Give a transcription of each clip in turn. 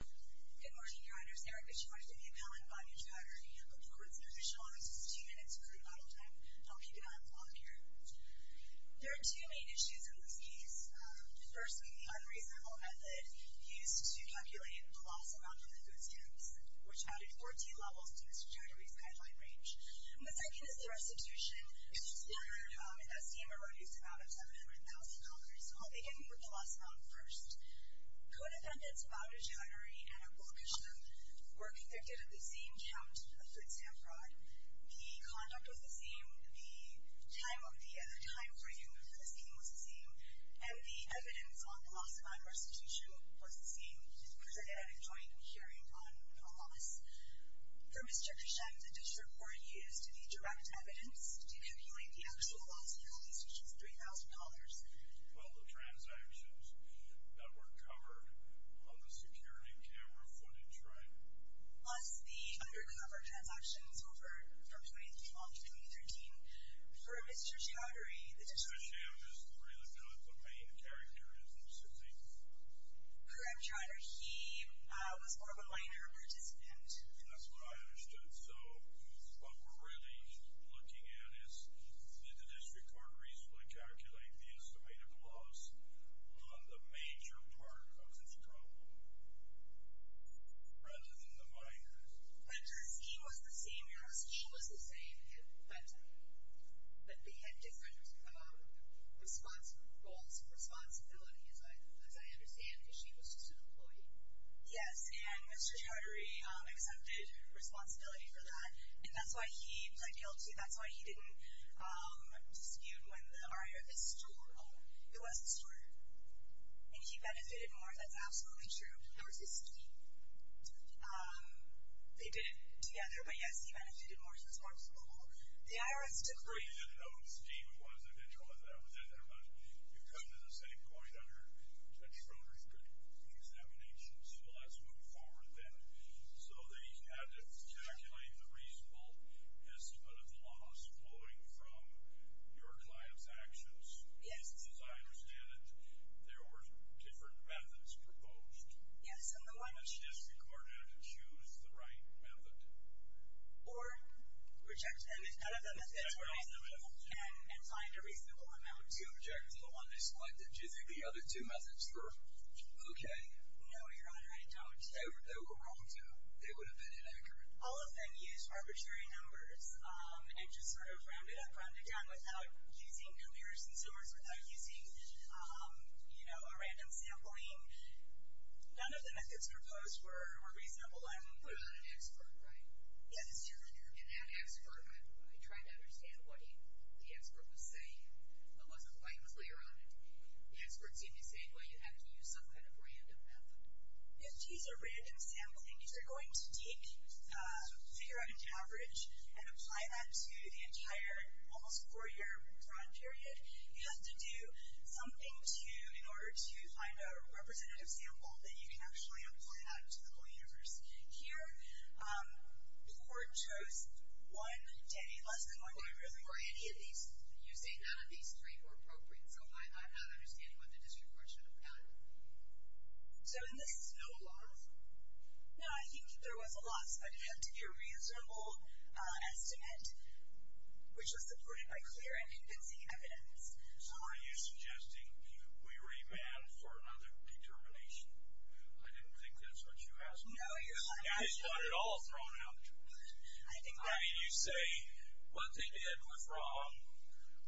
Good morning, Chowdhury owners. Erica Chowdhury, the appellant, Banu Chowdhury. I'm the court's judicial officer. This is two minutes of crude model time. I'll keep an eye on the clock here. There are two main issues in this case. Firstly, the unreasonable method used to calculate the loss amount from the food stamps, which added 14 levels to Mr. Chowdhury's guideline range. And the second is the restitution. Mr. Chowdhury, as you may remember, used an amount of $700,000. So I'll begin with the loss amount first. Co-defendants Banu Chowdhury and Abul Kishan were convicted of the same count of food stamp fraud. The conduct was the same. The time of the time where you moved to the scene was the same. And the evidence on the loss amount restitution was the same. You were triggered at a joint hearing on a loss. For Mr. Kishan, the district court used the direct evidence to calculate the actual loss amount, which was $3,000. Well, the transactions that were covered on the security camera footage, right? Plus the undercover transactions from 2013 to 2013. For Mr. Chowdhury, the district court— Mr. Chowdhury is really not the main character in this, is he? Correct, Your Honor. He was more of a minor participant. That's what I understood. And so what we're really looking at is, did the district court reasonably calculate the estimated loss on the major part of this problem rather than the minor? But the scene was the same, Your Honor. The scene was the same at that time. But they had different goals, responsibilities, as I understand, because she was just an employee. Yes, and Mr. Chowdhury accepted responsibility for that. And that's why he was ideal to you. That's why he didn't dispute when the IRS— Oh, it was the store. And he benefited more, that's absolutely true. There was a scheme. They did it together, but yes, he benefited more. The IRS took— Mr. Chowdhury didn't know Steve was an individual, and that was it. But you've come to the same point, Your Honor. Mr. Chowdhury did an examination, so let's move forward then. So they had to calculate the reasonable estimate of the loss floating from your client's actions. Yes. Because as I understand it, there were different methods proposed. Yes, and the one— And it's disregarded to choose the right method. Or reject them if none of the methods were reasonable and find a reasonable amount. Do you object to the one they selected? Do you think the other two methods were okay? No, Your Honor, I don't. They were wrong, too. They would have been inaccurate. All of them used arbitrary numbers and just sort of rounded up, rounded down without using clear consumers, without using, you know, a random sampling. None of the methods proposed were reasonable. Hold on. You're not an expert, right? Yes. And that expert, I tried to understand what the expert was saying. I wasn't quite clear on it. The expert seemed to say, well, you have to use some kind of random method. If these are random sampling, if you're going to take, figure out an average, and apply that to the entire almost four-year run period, you have to do something to, in order to find a representative sample that you can actually apply that to the whole universe. Here, the court chose one day, less than one day, really, for any of these. You say none of these three were appropriate, so I'm not understanding what the district court should have done. So in this, no loss? No, I think there was a loss, but it had to be a reasonable estimate, which was supported by clear and convincing evidence. So are you suggesting we remand for another determination? I didn't think that's what you asked me. No, you're lying. I just want it all thrown out. I mean, you say what they did was wrong,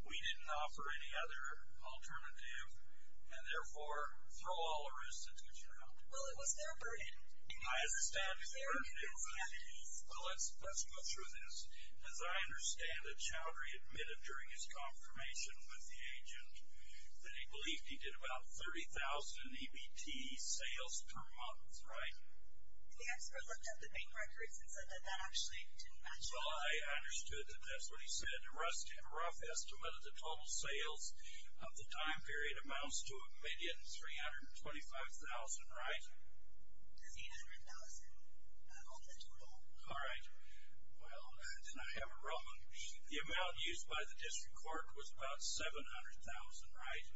we didn't offer any other alternative, and therefore throw all the risks into the child. Well, it was their burden. I understand it's their burden. Well, let's go through this. As I understand it, Childry admitted during his confirmation with the agent that he believed he did about 30,000 EBT sales per month, right? The expert looked up the bank records and said that that actually didn't match up. Well, I understood that that's what he said. A rough estimate of the total sales of the time period amounts to 1,325,000, right? That's 800,000 on the total. All right. Well, then I have it wrong. The amount used by the district court was about 700,000, right,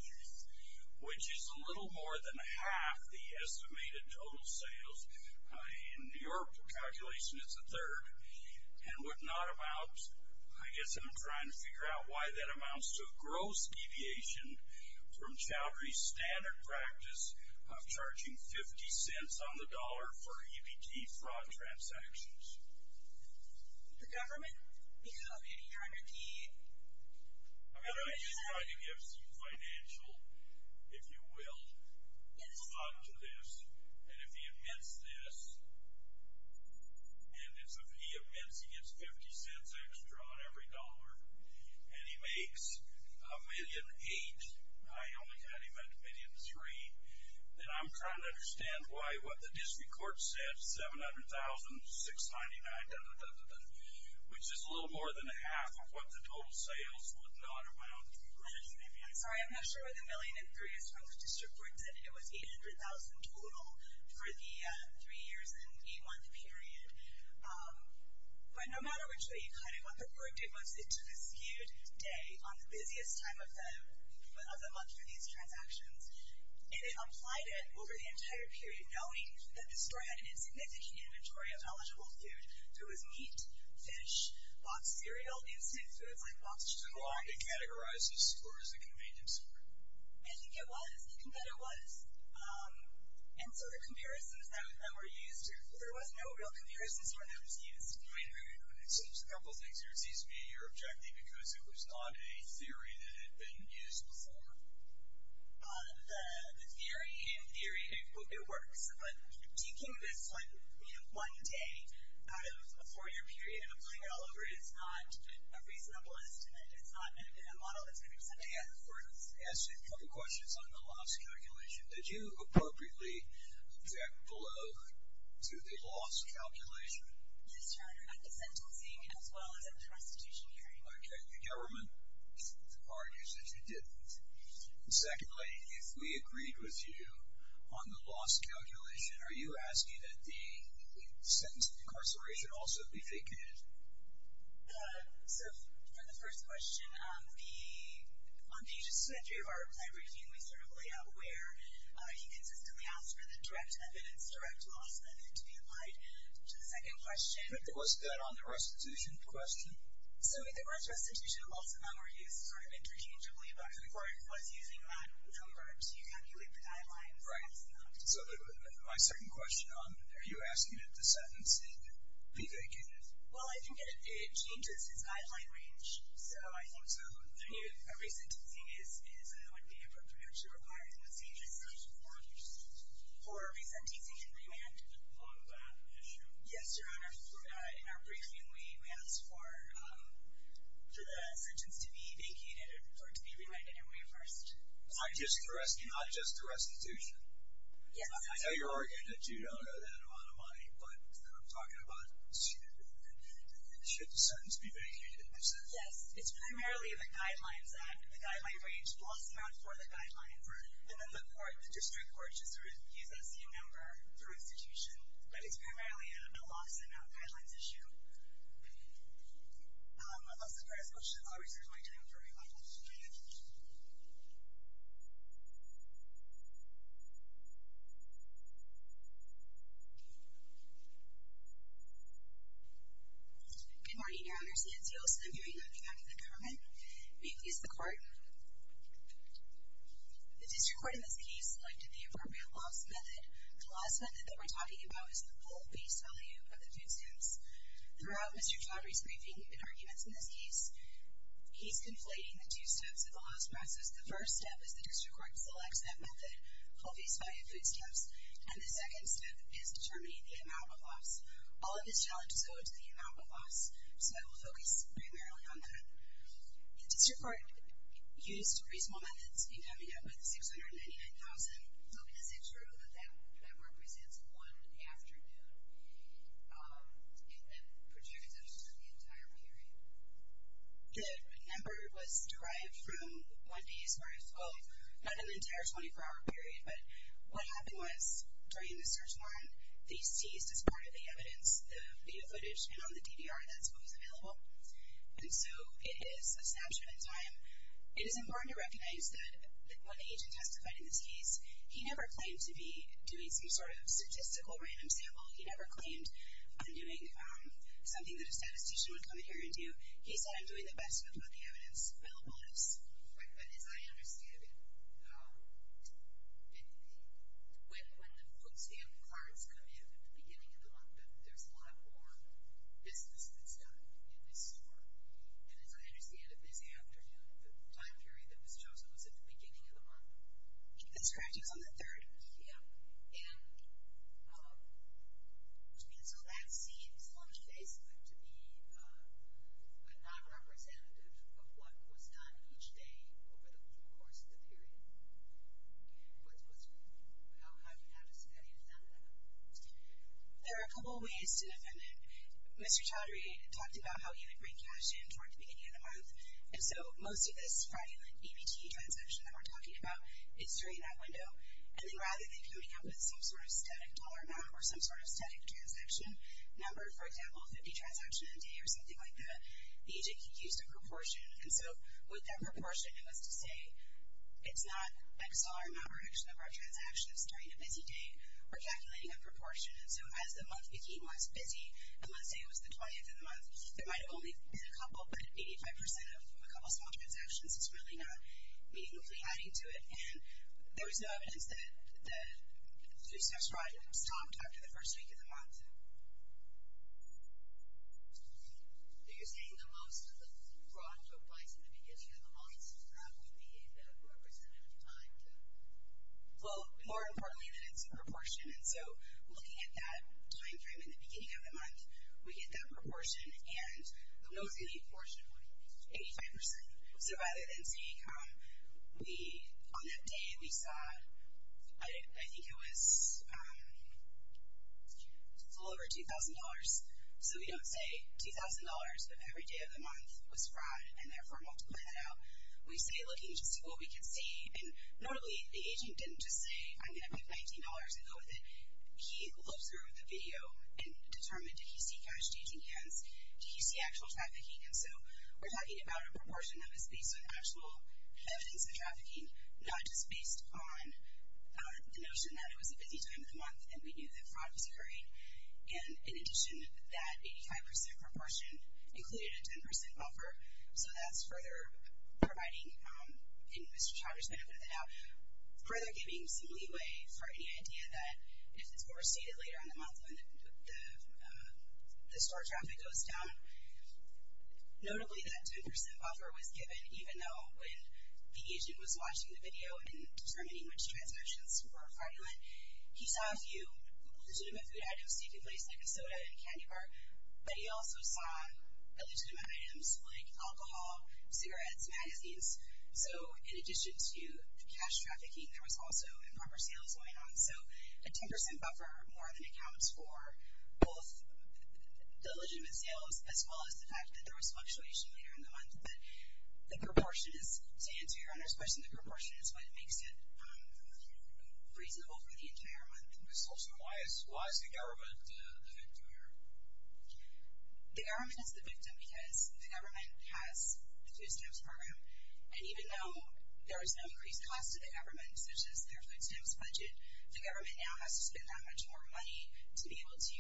which is a little more than half the estimated total sales. In your calculation, it's a third. And what not amounts, I guess I'm trying to figure out why that amounts to a gross deviation from Childry's standard practice of charging 50 cents on the dollar for EBT fraud transactions. The government? Because of EBT? I'm just trying to give some financial, if you will, thought to this. And if he admits this, and he admits he gets 50 cents extra on every dollar, and he makes $1,800,000. I only had him at 1,300,000, and I'm trying to understand why what the district court said, 700,000, 699,000, which is a little more than half of what the total sales would not amount to. I'm sorry. I'm not sure where the 1,300,000 is from. The district court said it was 800,000 total for the three years and eight-month period. But no matter which way you cut it, what the court did was it took a skewed day on the busiest time of the month for these transactions, and it applied it over the entire period, knowing that the store had an insignificant inventory of eligible food. So it was meat, fish, boxed cereal, instant foods like boxed churros. Does it belong to categorizes, or is it a convenience store? I think it was. I think that it was. And so the comparisons that were used, there was no real comparisons for what was used. Just a couple of things here. Excuse me. You're objecting because it was not a theory that had been used before. The theory in theory, it works. But taking this one day out of a four-year period and applying it all over it is not a reasonable estimate. It's not a model that's going to do something. I have a question. I have a couple of questions on the loss calculation. Did you appropriately check below to the loss calculation? Yes, Your Honor, at the sentencing as well as at the restitution hearing. Okay. The government argues that you didn't. Secondly, if we agreed with you on the loss calculation, are you asking that the sentence of incarceration also be fake news? So for the first question, on pages two and three of our report, we sort of lay out where you consistently ask for the direct evidence, direct loss, and then to be applied to the second question. But wasn't that on the restitution question? So the restitution also now argues sort of interchangeably about who was using what number to calculate the guidelines. Right. So my second question, are you asking that the sentencing be fake news? Well, I think it changes its guideline range. So I think a resentencing would be appropriately required. For a resentencing and remand? Yes, Your Honor. In our briefing, we asked for the sentence to be vacated or to be remanded anyway first. Not just the restitution? Yes. I know you're arguing that you don't owe that amount of money, but I'm talking about should the sentence be vacated. Yes. It's primarily the guidelines that the guideline range is a loss amount for the guideline. And then the court, the district court, just reviews that same number for restitution. But it's primarily a loss amount guidelines issue. I'll reserve my time for remand. Go ahead. Good morning, Your Honor. I'm Marcy Ancioso. I'm hearing on behalf of the government. We've used the court. The district court in this case selected the appropriate loss method. The loss method that we're talking about is the full face value of the food stamps. Throughout Mr. Chaudhary's briefing and arguments in this case, he's conflating the two steps of the loss process. The first step is the district court selects that method, full face value food stamps. And the second step is determining the amount of loss. All of this challenge is owed to the amount of loss. So I will focus primarily on that. The district court used reasonable methods in coming up with $699,000, hoping to see true that that represents one afternoon. And that projected to be the entire period. The number was derived from one day as far as, oh, not an entire 24-hour period. But what happened was, during the search warrant, they seized, as part of the evidence, the video footage and on the DVR, that's what was available. And so it is a snapshot in time. It is important to recognize that when the agent testified in this case, he never claimed to be doing some sort of statistical random sample. He never claimed undoing something that a statistician would come in here and do. He said, I'm doing the best with what the evidence available is. But as I understand it, when the food stamp cards come in at the beginning of the month, then there's a lot more business that's done in this store. And as I understand it, this afternoon, the time period that was chosen was at the beginning of the month. That's correct. It was on the 3rd. Yeah. And so that seems to me, basically, to be a non-representative of what was done each day over the course of the period. What's your view? How do you defend that? There are a couple ways to defend it. Mr. Chaudhary talked about how he would bring cash in toward the beginning of the month. And so most of this Friday night EBT transaction that we're talking about is during that window. And then rather than coming up with some sort of static dollar amount or some sort of static transaction number, for example, 50 transactions a day or something like that, the agent used a proportion. And so with that proportion, it was to say it's not x dollar amount or x number of transactions during a busy day. We're calculating a proportion. And so as the month became less busy, and let's say it was the 20th of the month, there might have only been a couple, but 85% of a couple small transactions is really not meaningfully adding to it. And there was no evidence that the two-step stride stopped after the first week of the month. So you're saying that most of the fraud took place in the beginning of the month? Would that be a bit of a representative of time, too? Well, more importantly, that it's a proportion. And so looking at that time frame in the beginning of the month, we get that proportion. And the most unique proportion, 85%. So rather than say, on that day, we saw, I think it was a little over $2,000. So we don't say $2,000 of every day of the month was fraud and therefore multiply that out. We stay looking to see what we can see. And notably, the agent didn't just say, I'm going to pick $19 and go with it. He looked through the video and determined, did he see cash-changing hands? Did he see actual trafficking? And so we're talking about a proportion that was based on actual evidence of trafficking, not just based on the notion that it was a busy time of the month and we knew that fraud was occurring. And in addition, that 85% proportion included a 10% buffer. So that's further providing. And Mr. Chaudry's been open to that now. Further giving some leeway for any idea that if it's overstated later on in the month, the store traffic goes down. Notably, that 10% buffer was given, even though when the agent was watching the video and determining which transactions were fraudulent, he saw a few legitimate food items taking place, like a soda and a candy bar. But he also saw illegitimate items, like alcohol, cigarettes, magazines. So in addition to the cash trafficking, there was also improper sales going on. So a 10% buffer more than accounts for both the illegitimate sales as well as the fact that there was fluctuation later in the month. But the proportion is, to answer your owner's question, the proportion is what makes it reasonable for the entire month. Why is the government the victim here? The government is the victim because the government has the food stamps program. And even though there is no increased cost to the government, such as their food stamps budget, the government now has to spend that much more money to be able to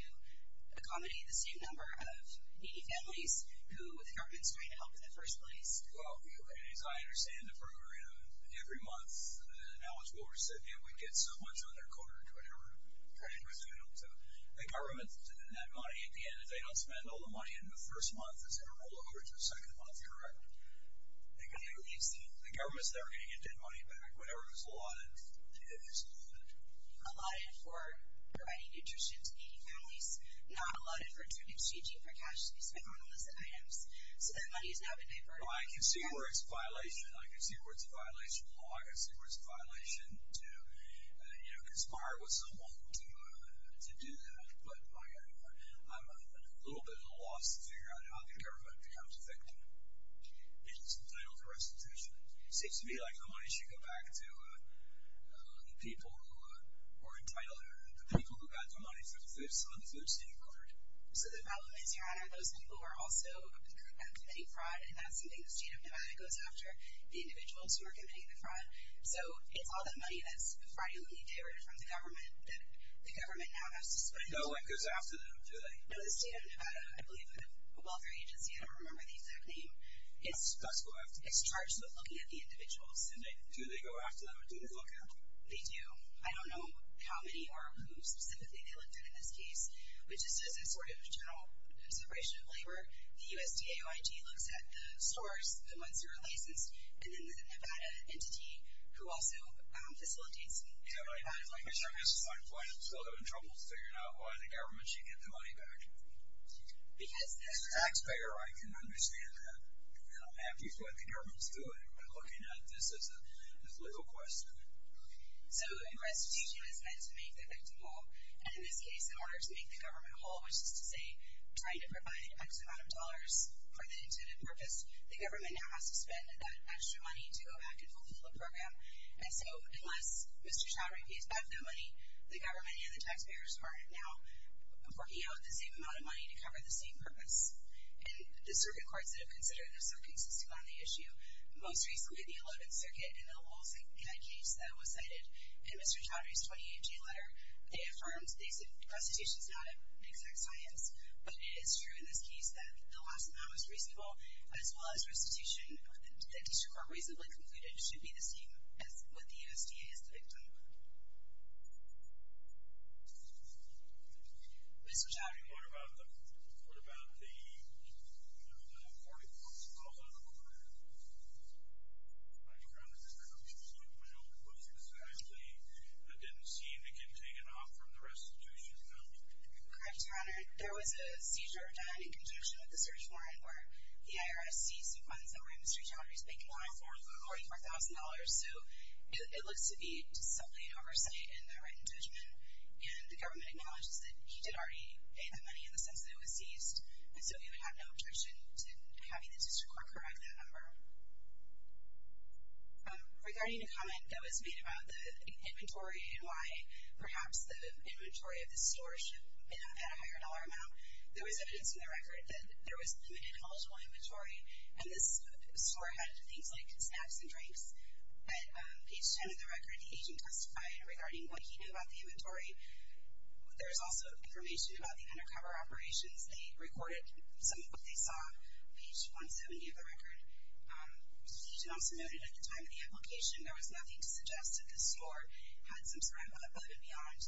accommodate the same number of needy families who the government's trying to help in the first place. Well, as I understand the program, every month, the knowledgeable recipient would get so much on their quarter, trying to resume to the government, and at the end, if they don't spend all the money in the first month, is there a rollover to the second month, correct? The government's never going to get that money back. Whenever it was allotted, it is allotted. Allotted for providing nutrition to needy families, not allotted for exchanging for cash to be spent on illicit items. So that money has now been diverted. I can see where it's a violation. I can see where it's a violation. I can see where it's a violation to conspire with someone to do that. But I'm a little bit at a loss to figure out how the government becomes effective and is entitled to restitution. It seems to me like the money should go back to the people who are entitled, the people who got the money for the food stamp card. So the problem is, Your Honor, those people are also committing fraud, and that's something the state of Nevada goes after, the individuals who are committing the fraud. So it's all that money that's fraudulently diverted from the government that the government now has to spend. No one goes after them, do they? No, the state of Nevada, I believe, a welfare agency, I don't remember the exact name. It's charged with looking at the individuals. Do they go after them? Do they look at them? They do. I don't know how many or who specifically they looked at in this case, which is just a sort of general separation of labor. The USDA OIG looks at the stores, the ones who are licensed, and then the Nevada entity, who also facilitates the Nevada. Your Honor, I guess this is my point. I'm still having trouble figuring out why the government should get the money back. As a taxpayer, I can understand that, and I'm happy for what the government's doing, but looking at this as a legal question. So restitution is meant to make the victim whole, and in this case, in order to make the government whole, which is to say trying to provide X amount of dollars for the intended purpose, the government now has to spend that extra money to go back and fulfill a program. And so unless Mr. Chaudhry pays back that money, the government and the taxpayers are now working out the same amount of money to cover the same purpose. And the circuit courts that have considered this are consistent on the issue. Most recently, the Allotted Circuit in the Lowell's case that was cited in Mr. Chaudhry's 28-G letter, they affirmed that restitution is not an exact science, but it is true in this case that the last amount was reasonable, as well as restitution, the District Court reasonably concluded that restitution should be the same with the USDA as the victim. Mr. Chaudhry. What about the 44,000? I'm trying to think. I don't know if it was exactly that didn't seem to get taken off from the restitution amount. Correct, Your Honor. There was a seizure done in conjunction with the search warrant where the IRS seized some funds that were in Mr. Chaudhry's bank loan for $44,000, so it looks to be just subtly an oversight in the written judgment, and the government acknowledges that he did already pay that money in the sense that it was seized, and so we would have no objection to having the District Court correct that number. Regarding the comment that was made about the inventory and why perhaps the inventory of the store should have had a higher dollar amount, there was evidence in the record that there was limited eligible inventory, and this store had things like snacks and drinks. At page 10 of the record, the agent testified regarding what he knew about the inventory. There was also information about the undercover operations. They recorded some of what they saw page 170 of the record. He also noted at the time of the application there was nothing to suggest that the store had some sort of above and beyond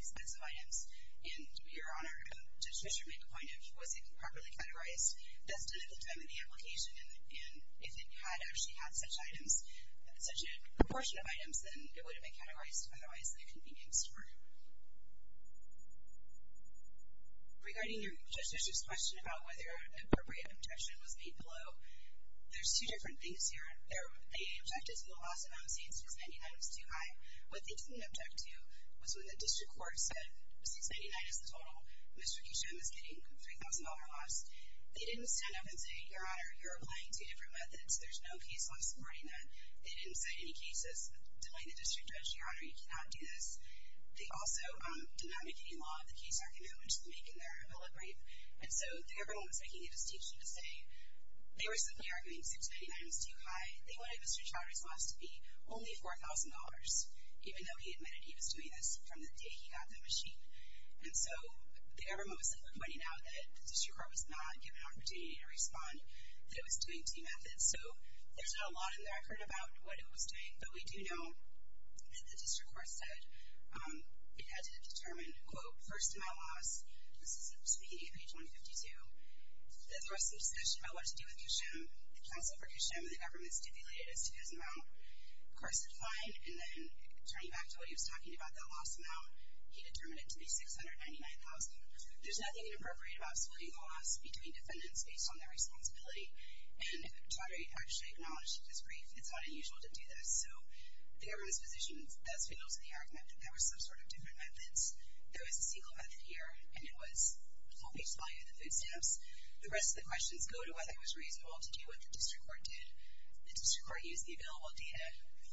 expensive items, and, Your Honor, to Mr. McIntyre, he wasn't properly categorized. That's done at the time of the application, and if it had actually had such items, such a proportion of items, then it would have been categorized. Otherwise, it couldn't be named a store. Regarding Judge Bishop's question about whether an appropriate objection was made below, there's two different things here. They objected to the loss amount, saying 699 was too high. What they didn't object to was when the District Court said 699 is the total. Mr. Kishan was getting a $3,000 loss. They didn't stand up and say, Your Honor, you're applying two different methods. There's no case law supporting that. They didn't cite any cases denying the District Judge, Your Honor, you cannot do this. They also did not make any law of the case argument which they make in their appellate brief, and so the government was making a distinction to say they were simply arguing 699 was too high. They wanted Mr. Trotter's loss to be only $4,000, even though he admitted he was doing this from the day he got the machine, and so the government was simply pointing out that the District Court was not given an opportunity to respond that it was doing two methods, so there's not a lot in the record about what it was doing, but we do know that the District Court said it had to determine, quote, first amount loss. This is speaking of page 152. There was some discussion about what to do with Kishan. The counsel for Kishan and the government stipulated a $2,000 amount. The court said fine, and then turning back to what he was talking about, that loss amount, he determined it to be 699,000. There's nothing inappropriate about splitting the loss between defendants based on their responsibility, and Trotter actually acknowledged it as brief. It's not unusual to do this, so the government's position does fit into the argument that there were some sort of different methods. There was a single method here, and it was full-page supply of the food stamps. The rest of the questions go to whether it was reasonable to do what the District Court did. The District Court used the available data.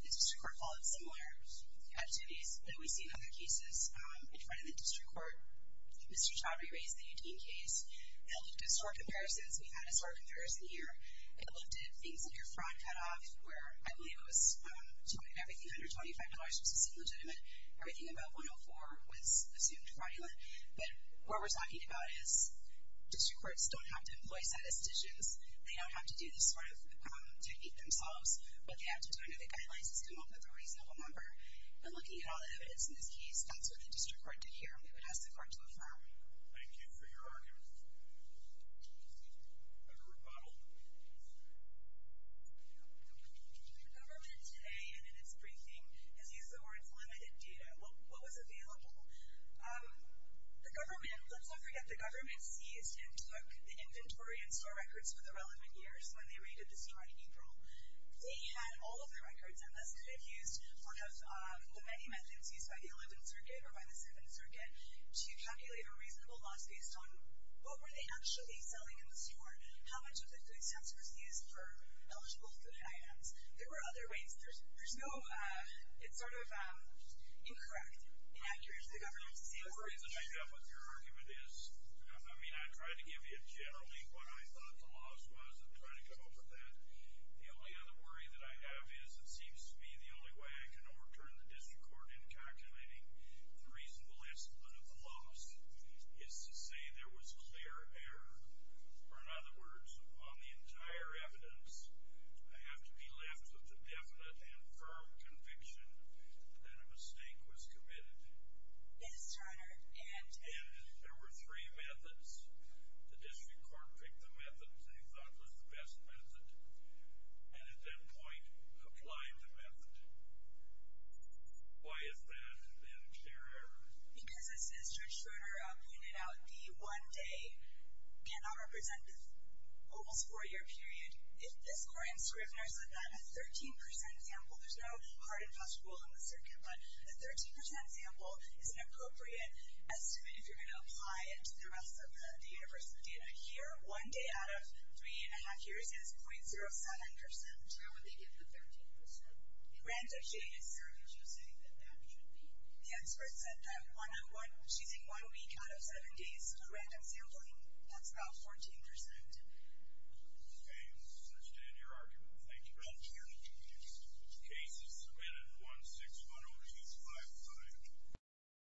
The District Court followed similar activities that we see in other cases in front of the District Court. Mr. Trotter, you raised the Eugene case. It looked at store comparisons. We had a store comparison here. It looked at things under fraud cutoff where I believe it was everything under $25 was just illegitimate. Everything above 104 was assumed fraudulent, but what we're talking about is District Courts don't have to employ statisticians. They don't have to do this sort of technique themselves. What they have to do under the guidelines is come up with a reasonable number, and looking at all the evidence in this case, that's what the District Court did here, and it would ask the court to affirm. Thank you for your argument. A group model. The government today, and in its briefing, has used the words limited data. What was available? The government, let's not forget, the government seized and took the inventory and store records for the relevant years when they raided the store in April. They had all of the records, and thus could have used one of the many methods used by the 11th Circuit or by the 7th Circuit to calculate a reasonable loss based on what were they actually selling in the store, how much of the food stamps were used for eligible food items. There were other ways. There's no... It's sort of incorrect, inaccurate. The government is saying... The worry that I have with your argument is, I mean, I tried to give you generally what I thought the loss was and try to come up with that. The only other worry that I have is it seems to me the only way I can overturn the district court in calculating the reasonable estimate of the loss is to say there was clear error. Or in other words, on the entire evidence, I have to be left with the definite and firm conviction that a mistake was committed. Mr. Turner, and... And there were three methods. The district court picked the method they thought was the best method and at that point applied the method. Why is that an unclear error? Because as Judge Schroeder pointed out, the one day cannot represent the whole four-year period. If this court in Scrivener said that a 13% sample... There's no hard and fast rule in the Circuit, but a 13% sample is an appropriate estimate if you're going to apply it to the rest of the universe of the data. Here, one day out of three and a half years the case is .07%. How would they get the 13%? Random sampling. Is there an issue saying that that should be? The expert said that one week out of seven days of random sampling, that's about 14%. Okay, we understand your argument. Thank you very much. Thank you. The case is submitted 1610255.